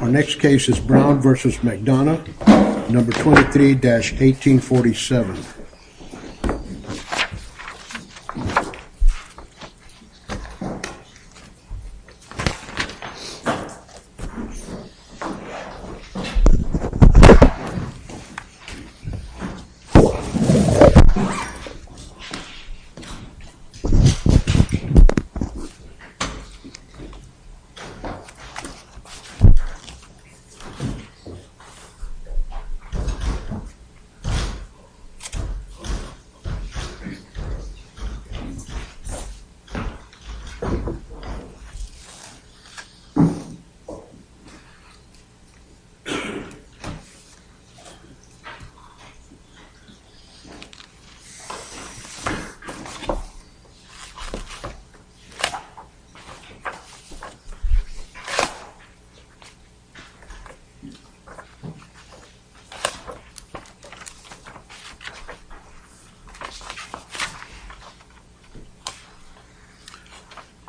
Our next case is Brown v. McDonough number 23-1847 Our next case is Brown v. McDonough number 23-1847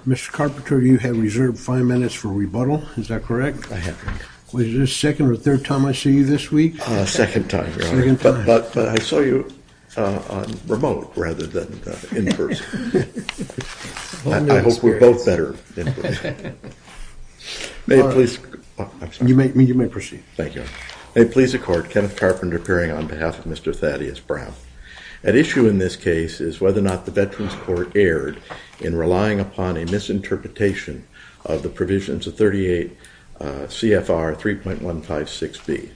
Mr. Carpenter, you have reserved five minutes for rebuttal, is that correct? Was this the second or third time I see you this week? Second time, but I saw you on remote rather than in person. I hope we're both better in person. You may proceed. Thank you. May it please the court, Kenneth Carpenter appearing on behalf of Mr. Thaddeus Brown. At issue in this case is whether or not the Veterans Court erred in relying upon a misinterpretation of the provisions of 38 CFR 3.156B.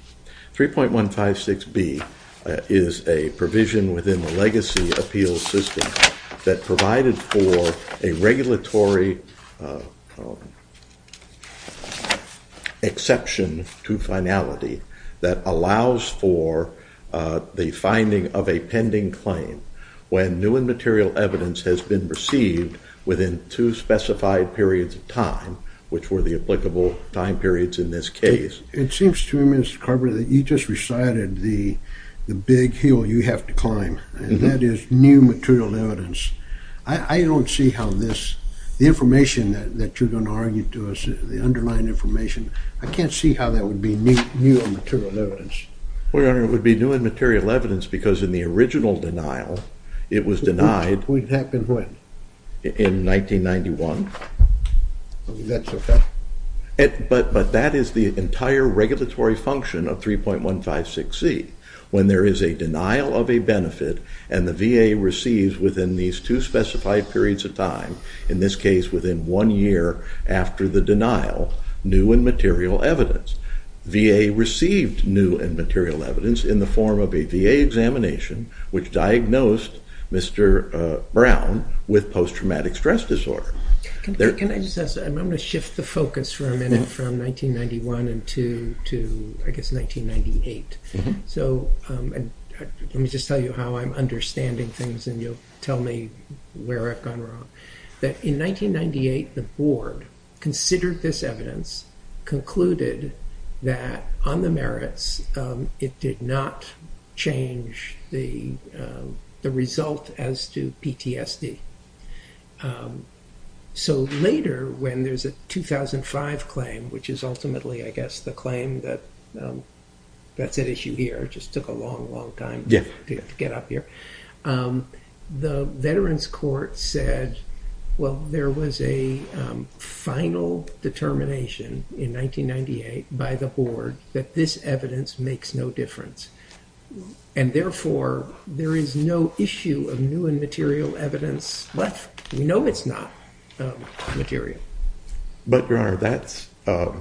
3.156B is a provision within the legacy appeals system that provided for a regulatory exception to finality that allows for the finding of a pending claim when new and material evidence has been received within two specified periods of time, which were the applicable time periods in this case. It seems to me, Mr. Carpenter, that you just recited the big hill you have to climb, and that is new material evidence. I don't see how this, the information that you're going to argue to us, the underlying information, I can't see how that would be new and material evidence. Well, Your Honor, it would be new and material evidence because in the original denial, it was denied. It happened when? In 1991. That's okay. But that is the entire regulatory function of 3.156C, when there is a denial of a benefit and the VA receives within these two specified periods of time, in this case within one year after the denial, new and material evidence. VA received new and material evidence in the form of a VA examination, which diagnosed Mr. Brown with post-traumatic stress disorder. Can I just ask, I'm going to shift the focus for a minute from 1991 and to, I guess, 1998. Let me just tell you how I'm understanding things, and you'll tell me where I've gone wrong. In 1998, the board considered this evidence, concluded that on the merits, it did not change the result as to PTSD. So later, when there's a 2005 claim, which is ultimately, I guess, the claim that that's at issue here, it just took a long, long time to get up here. The Veterans Court said, well, there was a final determination in 1998 by the board that this evidence makes no difference. And therefore, there is no issue of new and material evidence left. We know it's not material. But, Your Honor, that's...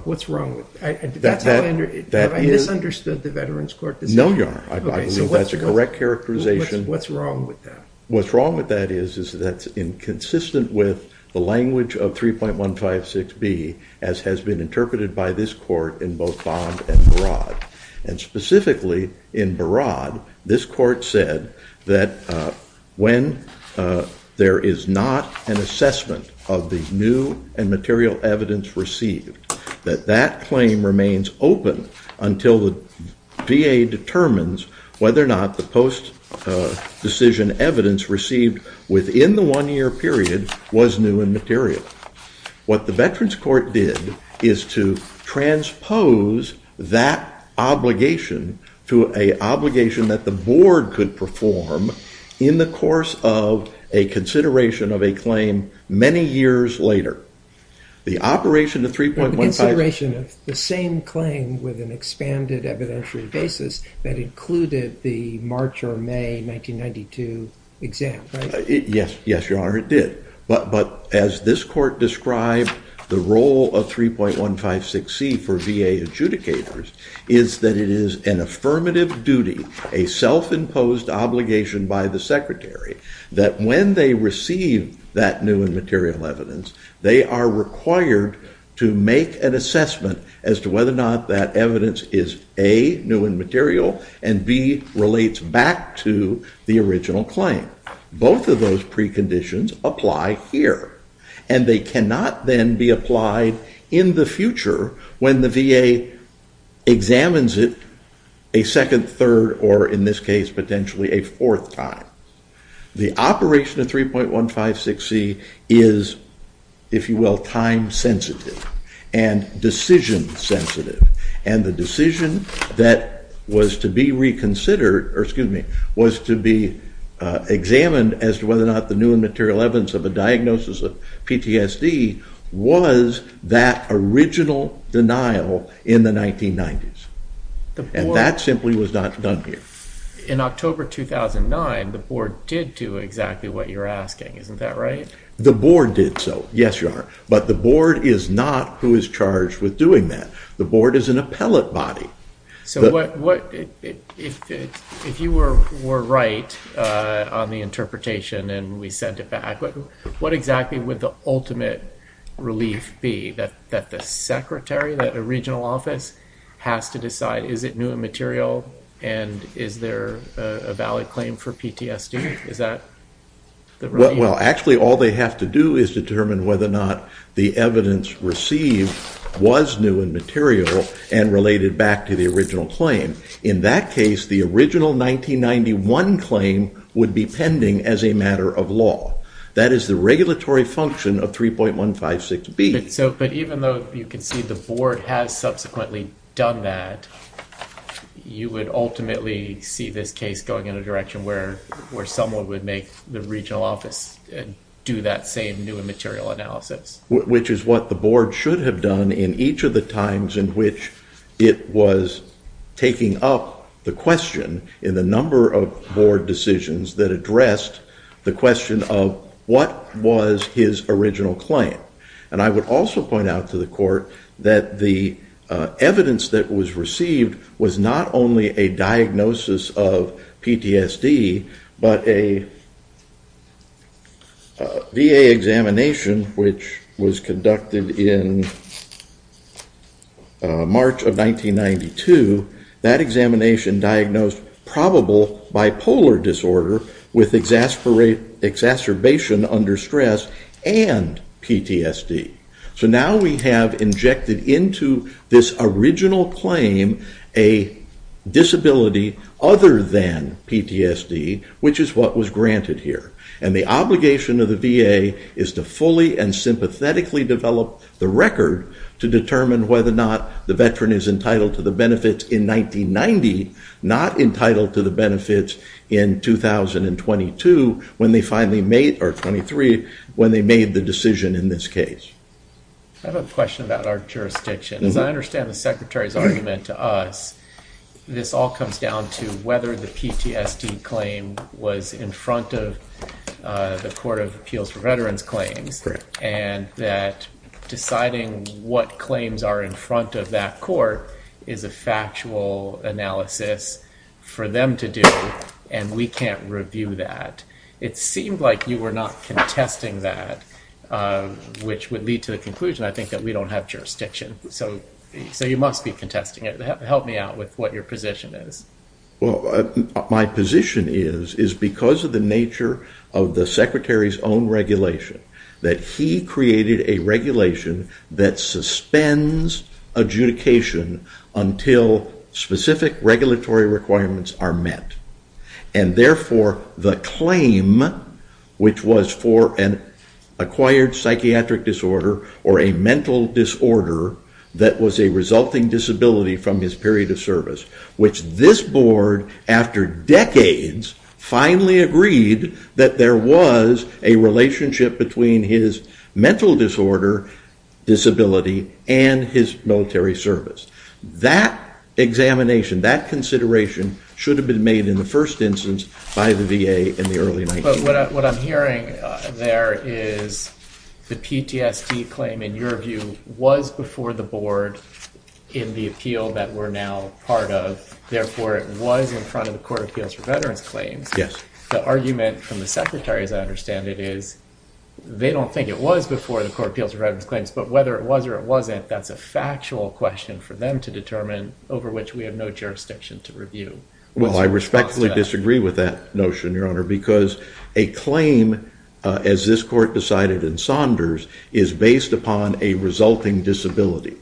What's wrong with... Have I misunderstood the Veterans Court decision? No, Your Honor. I believe that's a correct characterization. What's wrong with that? What's wrong with that is that's inconsistent with the language of 3.156B, as has been interpreted by this court in both bond and fraud. And specifically, in Barad, this court said that when there is not an assessment of the new and material evidence received, that that claim remains open until the VA determines whether or not the post-decision evidence received within the one-year period was new and material. What the Veterans Court did is to transpose that obligation to an obligation that the board could perform in the course of a consideration of a claim many years later. The operation of 3.156B... The consideration of the same claim with an expanded evidentiary basis that included the March or May 1992 exam, right? Yes, Your Honor, it did. But as this court described, the role of 3.156C for VA adjudicators is that it is an affirmative duty, a self-imposed obligation by the secretary, that when they receive that new and material evidence, they are required to make an assessment as to whether or not that evidence is, A, new and material, and, B, relates back to the original claim. Both of those preconditions apply here, and they cannot then be applied in the future when the VA examines it a second, third, or, in this case, potentially a fourth time. The operation of 3.156C is, if you will, time-sensitive and decision-sensitive, and the decision that was to be reconsidered, or, excuse me, was to be examined as to whether or not the new and material evidence of a diagnosis of PTSD was that original denial in the 1990s. And that simply was not done here. In October 2009, the board did do exactly what you're asking, isn't that right? The board did so, yes, Your Honor, but the board is not who is charged with doing that. The board is an appellate body. So what, if you were right on the interpretation and we sent it back, what exactly would the ultimate relief be? That the secretary, that a regional office, has to decide, is it new and material, and is there a valid claim for PTSD? Well, actually, all they have to do is determine whether or not the evidence received was new and material and related back to the original claim. In that case, the original 1991 claim would be pending as a matter of law. That is the regulatory function of 3.156B. But even though you can see the board has subsequently done that, you would ultimately see this case going in a direction where someone would make the regional office do that same new and material analysis. Which is what the board should have done in each of the times in which it was taking up the question in the number of board decisions that addressed the question of what was his original claim. And I would also point out to the court that the evidence that was received was not only a diagnosis of PTSD, but a VA examination which was conducted in March of 1992. That examination diagnosed probable bipolar disorder with exacerbation under stress and PTSD. So now we have injected into this original claim a disability other than PTSD, which is what was granted here. And the obligation of the VA is to fully and sympathetically develop the record to determine whether or not the veteran is entitled to the benefits in 1990, not entitled to the benefits in 2022 when they finally made, or 23, when they made the decision in this case. I have a question about our jurisdiction. As I understand the Secretary's argument to us, this all comes down to whether the PTSD claim was in front of the Court of Appeals for Veterans Claims. And that deciding what claims are in front of that court is a factual analysis for them to do, and we can't review that. It seemed like you were not contesting that, which would lead to the conclusion, I think, that we don't have jurisdiction. So you must be contesting it. Help me out with what your position is. Well, my position is, is because of the nature of the Secretary's own regulation, that he created a regulation that suspends adjudication until specific regulatory requirements are met. And therefore, the claim, which was for an acquired psychiatric disorder or a mental disorder that was a resulting disability from his period of service, which this board, after decades, finally agreed that there was a relationship between his mental disorder disability and his military service. That examination, that consideration should have been made in the first instance by the VA in the early 1990s. But what I'm hearing there is the PTSD claim, in your view, was before the board in the appeal that we're now part of. Therefore, it was in front of the Court of Appeals for Veterans Claims. Yes. The argument from the Secretary, as I understand it, is they don't think it was before the Court of Appeals for Veterans Claims. But whether it was or it wasn't, that's a factual question for them to determine, over which we have no jurisdiction to review. Well, I respectfully disagree with that notion, Your Honor, because a claim, as this court decided in Saunders, is based upon a resulting disability.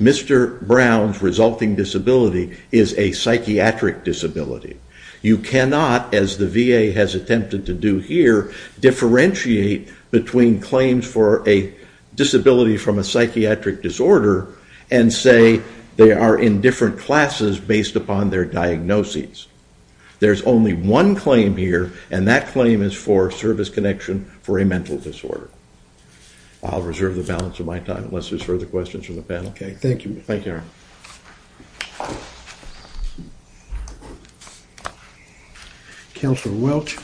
Mr. Brown's resulting disability is a psychiatric disability. You cannot, as the VA has attempted to do here, differentiate between claims for a disability from a psychiatric disorder and say they are in different classes based upon their diagnoses. There's only one claim here, and that claim is for service connection for a mental disorder. I'll reserve the balance of my time, unless there's further questions from the panel. Okay. Thank you. Thank you, Your Honor. Counselor Welch?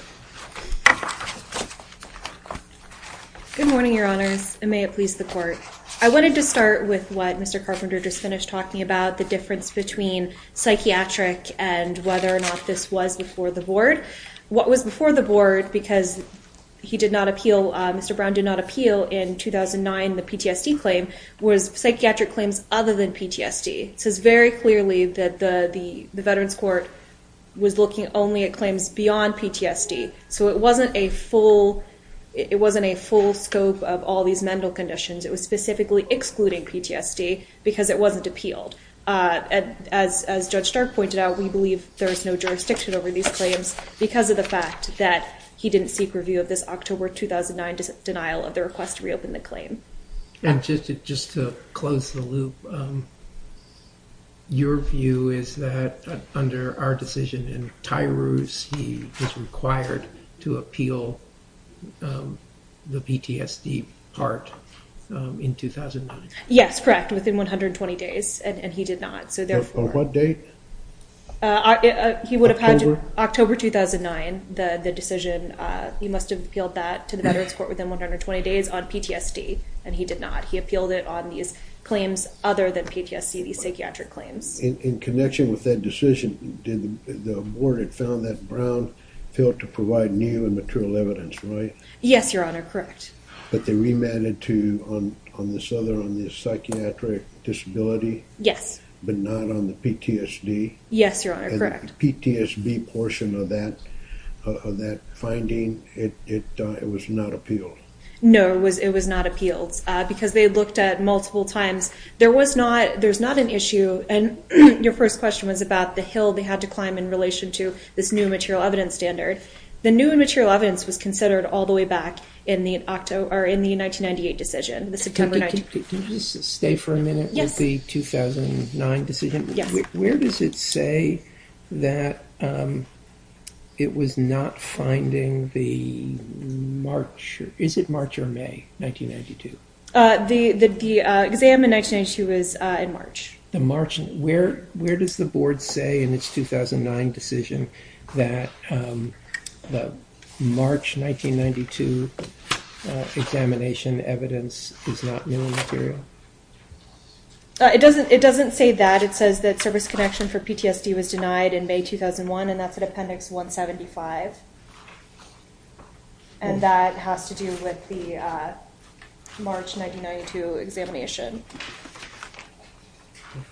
Good morning, Your Honors, and may it please the Court. I wanted to start with what Mr. Carpenter just finished talking about, the difference between psychiatric and whether or not this was before the board. What was before the board, because he did not appeal, Mr. Brown did not appeal in 2009, the PTSD claim, was psychiatric claims other than PTSD. It says very clearly that the Veterans Court was looking only at claims beyond PTSD, so it wasn't a full scope of all these mental conditions. It was specifically excluding PTSD because it wasn't appealed. As Judge Stark pointed out, we believe there is no jurisdiction over these claims because of the fact that he didn't seek review of this October 2009 denial of the request to reopen the claim. And just to close the loop, your view is that under our decision in Tyrus, he was required to appeal the PTSD part in 2009? Yes, correct, within 120 days, and he did not. On what date? October 2009, the decision, he must have appealed that to the Veterans Court within 120 days on PTSD, and he did not. He appealed it on these claims other than PTSD, these psychiatric claims. In connection with that decision, the board had found that Brown failed to provide new and material evidence, right? Yes, Your Honor, correct. But they remanded to, on this other, on this psychiatric disability? Yes. But not on the PTSD? Yes, Your Honor, correct. And the PTSD portion of that finding, it was not appealed? No, it was not appealed because they looked at multiple times. There was not, there's not an issue, and your first question was about the hill they had to climb in relation to this new material evidence standard. The new material evidence was considered all the way back in the 1998 decision, the September 19th. Could you just stay for a minute with the 2009 decision? Where does it say that it was not finding the March, is it March or May 1992? The exam in 1992 was in March. Where does the board say in its 2009 decision that the March 1992 examination evidence is not new material? It doesn't say that. It says that service connection for PTSD was denied in May 2001, and that's at Appendix 175. And that has to do with the March 1992 examination.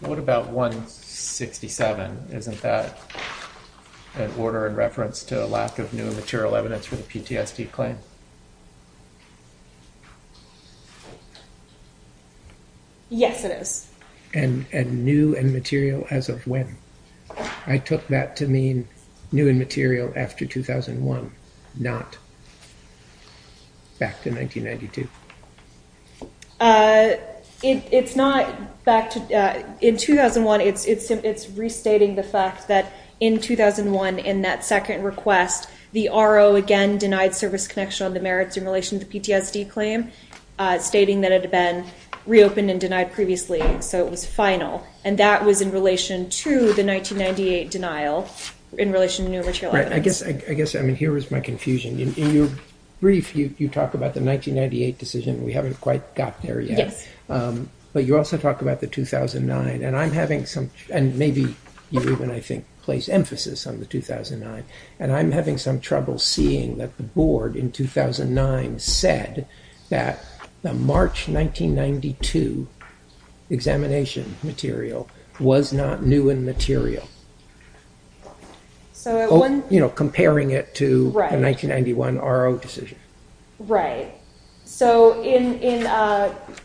What about 167? Isn't that an order in reference to a lack of new material evidence for the PTSD claim? Yes, it is. And new and material as of when? I took that to mean new and material after 2001, not back to 1992. In 2001, it's restating the fact that in 2001, in that second request, the RO again denied service connection on the merits in relation to the PTSD claim, stating that it had been reopened and denied previously, so it was final. And that was in relation to the 1998 denial in relation to new material evidence. I guess here is my confusion. In your brief, you talk about the 1998 decision. We haven't quite got there yet. But you also talk about the 2009, and maybe you even, I think, place emphasis on the 2009. And I'm having some trouble seeing that the board in 2009 said that the March 1992 examination material was not new and material. So at one... You know, comparing it to the 1991 RO decision. Right. So in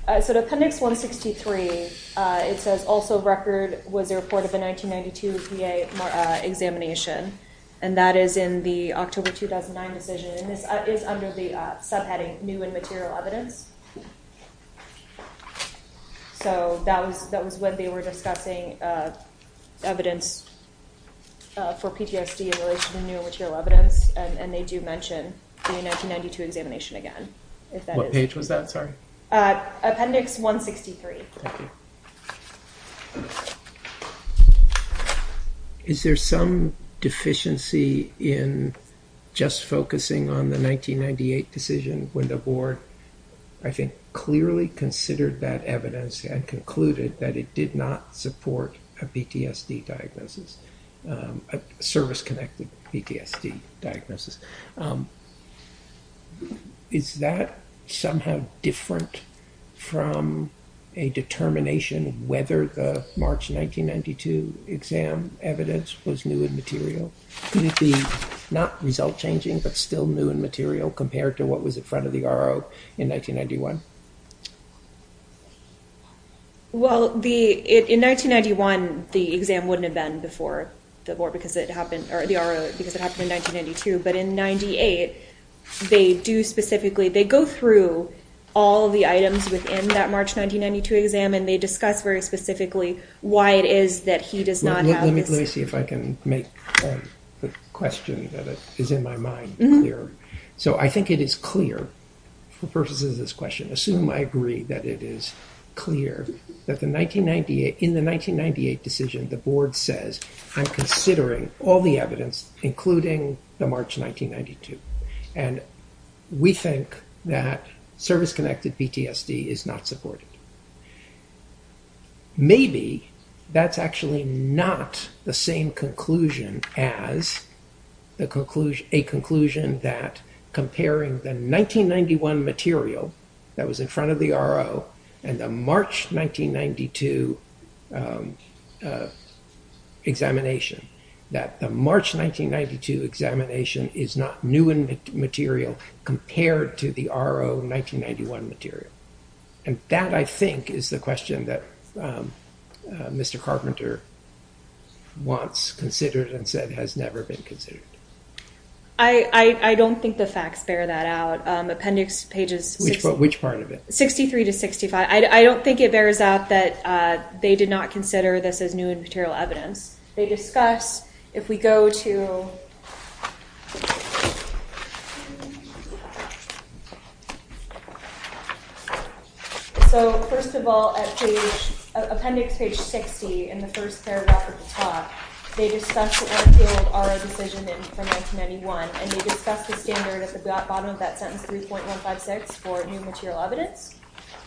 appendix 163, it says also record was a report of the 1992 VA examination. And that is in the October 2009 decision, and this is under the subheading new and material evidence. So that was when they were discussing evidence for PTSD in relation to new and material evidence, and they do mention the 1992 examination again. What page was that, sorry? Appendix 163. Thank you. Is there some deficiency in just focusing on the 1998 decision when the board, I think, clearly considered that evidence and concluded that it did not support a PTSD diagnosis, a service-connected PTSD diagnosis? Is that somehow different from a determination whether the March 1992 exam evidence was new and material? Could it be not result-changing but still new and material compared to what was in front of the RO in 1991? Well, in 1991, the exam wouldn't have been before the board because it happened, or the RO, because it happened in 1992. But in 98, they do specifically, they go through all the items within that March 1992 exam, and they discuss very specifically why it is that he does not have this... Let me see if I can make the question that is in my mind clear. So I think it is clear, for purposes of this question, assume I agree that it is clear that in the 1998 decision, the board says, I'm considering all the evidence, including the March 1992, and we think that service-connected PTSD is not supported. Maybe that's actually not the same conclusion as a conclusion that comparing the 1991 material that was in front of the RO and the March 1992 examination, that the March 1992 examination is not new and material compared to the RO 1991 material. And that, I think, is the question that Mr. Carpenter wants considered and said has never been considered. I don't think the facts bear that out. Appendix pages... Which part of it? 63 to 65. I don't think it bears out that they did not consider this as new and material evidence. They discuss, if we go to... So, first of all, appendix page 60, in the first paragraph of the talk, they discuss the RO decision from 1991, and they discuss the standard at the bottom of that sentence, 3.156, for new material evidence.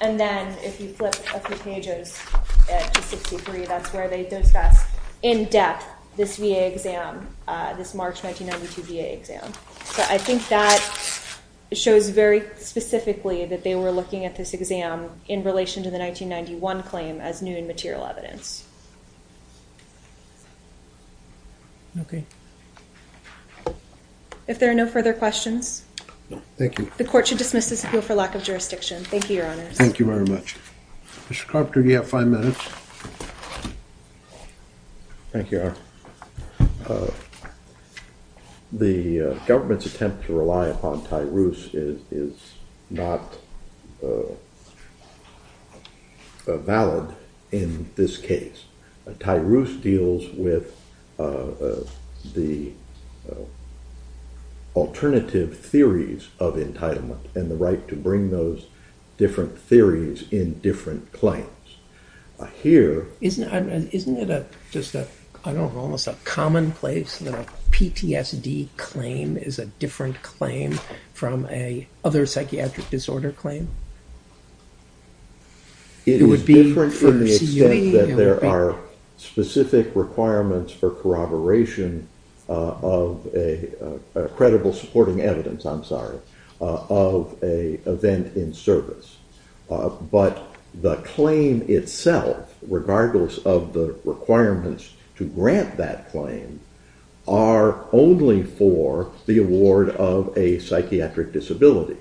And then, if you flip a few pages to 63, that's where they discuss in depth this VA exam, this March 1992 VA exam. So, I think that shows very specifically that they were looking at this exam in relation to the 1991 claim as new and material evidence. Okay. If there are no further questions... No, thank you. The Court should dismiss this appeal for lack of jurisdiction. Thank you, Your Honors. Thank you very much. Mr. Carpenter, you have five minutes. Thank you, Your Honor. The government's attempt to rely upon TIRUS is not valid in this case. TIRUS deals with the alternative theories of entitlement and the right to bring those different theories in different claims. Isn't it almost a commonplace that a PTSD claim is a different claim from a other psychiatric disorder claim? It would be from the extent that there are specific requirements for corroboration of a credible supporting evidence, I'm sorry, of an event in service. But the claim itself, regardless of the requirements to grant that claim, are only for the award of a psychiatric disability.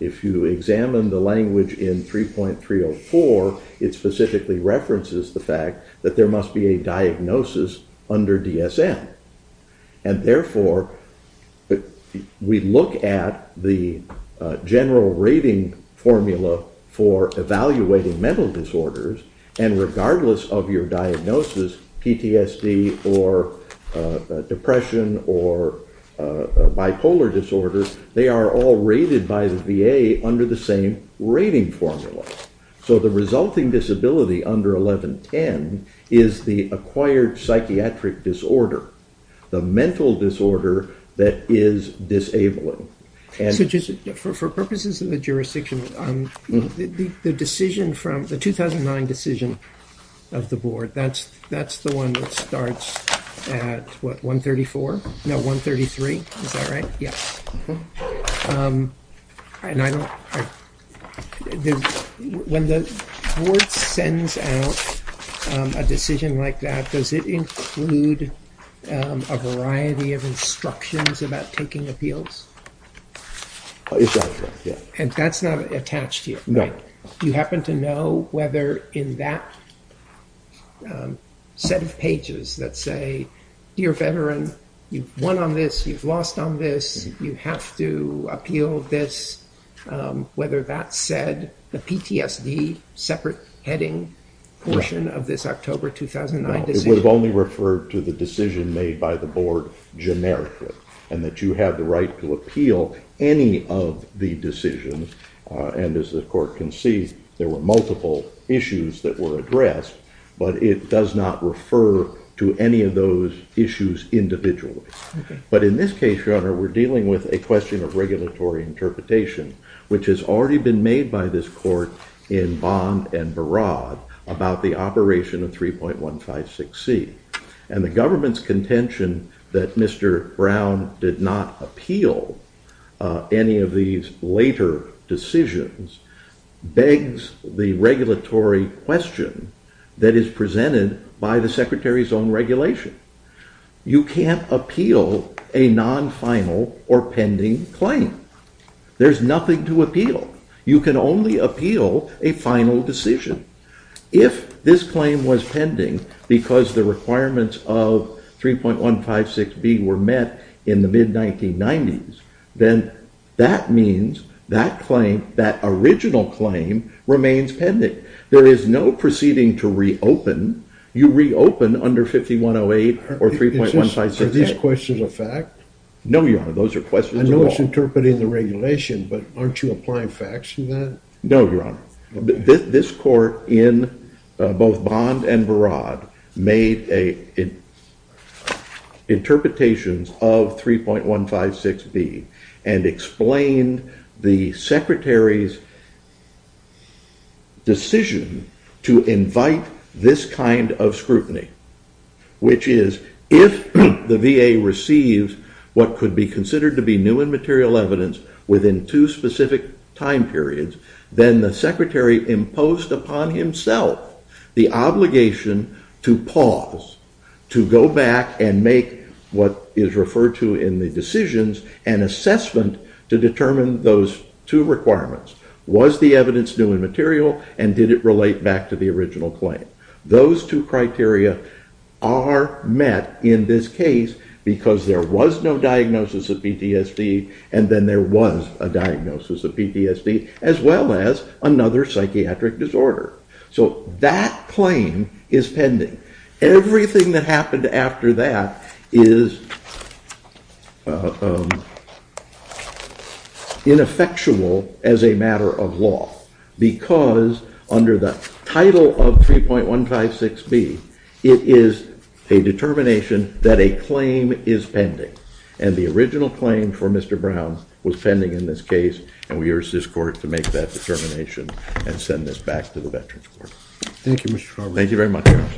If you examine the language in 3.304, it specifically references the fact that there must be a diagnosis under DSM. And therefore, we look at the general rating formula for evaluating mental disorders, and regardless of your diagnosis, PTSD or depression or bipolar disorders, they are all rated by the VA under the same rating formula. So the resulting disability under 1110 is the acquired psychiatric disorder, the mental disorder that is disabling. So just for purposes of the jurisdiction, the 2009 decision of the board, that's the one that starts at what, 134? No, 133? Is that right? Yes. When the board sends out a decision like that, does it include a variety of instructions about taking appeals? It does, yes. And that's not attached here, right? You happen to know whether in that set of pages that say, Dear Veteran, you've won on this, you've lost on this, you have to appeal this, whether that said the PTSD separate heading portion of this October 2009 decision? It would have only referred to the decision made by the board generically, and that you have the right to appeal any of the decisions. And as the court concedes, there were multiple issues that were addressed, but it does not refer to any of those issues individually. But in this case, Your Honor, we're dealing with a question of regulatory interpretation, which has already been made by this court in Bond and Barad about the operation of 3.156C. And the government's contention that Mr. Brown did not appeal any of these later decisions begs the regulatory question that is presented by the Secretary's own regulation. You can't appeal a non-final or pending claim. There's nothing to appeal. You can only appeal a final decision. If this claim was pending because the requirements of 3.156B were met in the mid-1990s, then that means that claim, that original claim, remains pending. There is no proceeding to reopen. You reopen under 5108 or 3.156B. Are these questions a fact? No, Your Honor, those are questions of law. I know it's interpreting the regulation, but aren't you applying facts to that? No, Your Honor. This court in both Bond and Barad made interpretations of 3.156B and explained the Secretary's decision to invite this kind of scrutiny, which is if the VA receives what could be considered to be new and material evidence within two specific time periods, then the Secretary imposed upon himself the obligation to pause, to go back and make what is referred to in the decisions an assessment to determine those two requirements. Was the evidence new and material and did it relate back to the original claim? No. Those two criteria are met in this case because there was no diagnosis of PTSD and then there was a diagnosis of PTSD as well as another psychiatric disorder. So that claim is pending. Everything that happened after that is ineffectual as a matter of law because under the title of 3.156B, it is a determination that a claim is pending. And the original claim for Mr. Brown was pending in this case and we urge this court to make that determination and send this back to the Veterans Court. Thank you, Mr. Farber. Thank you very much, Your Honor.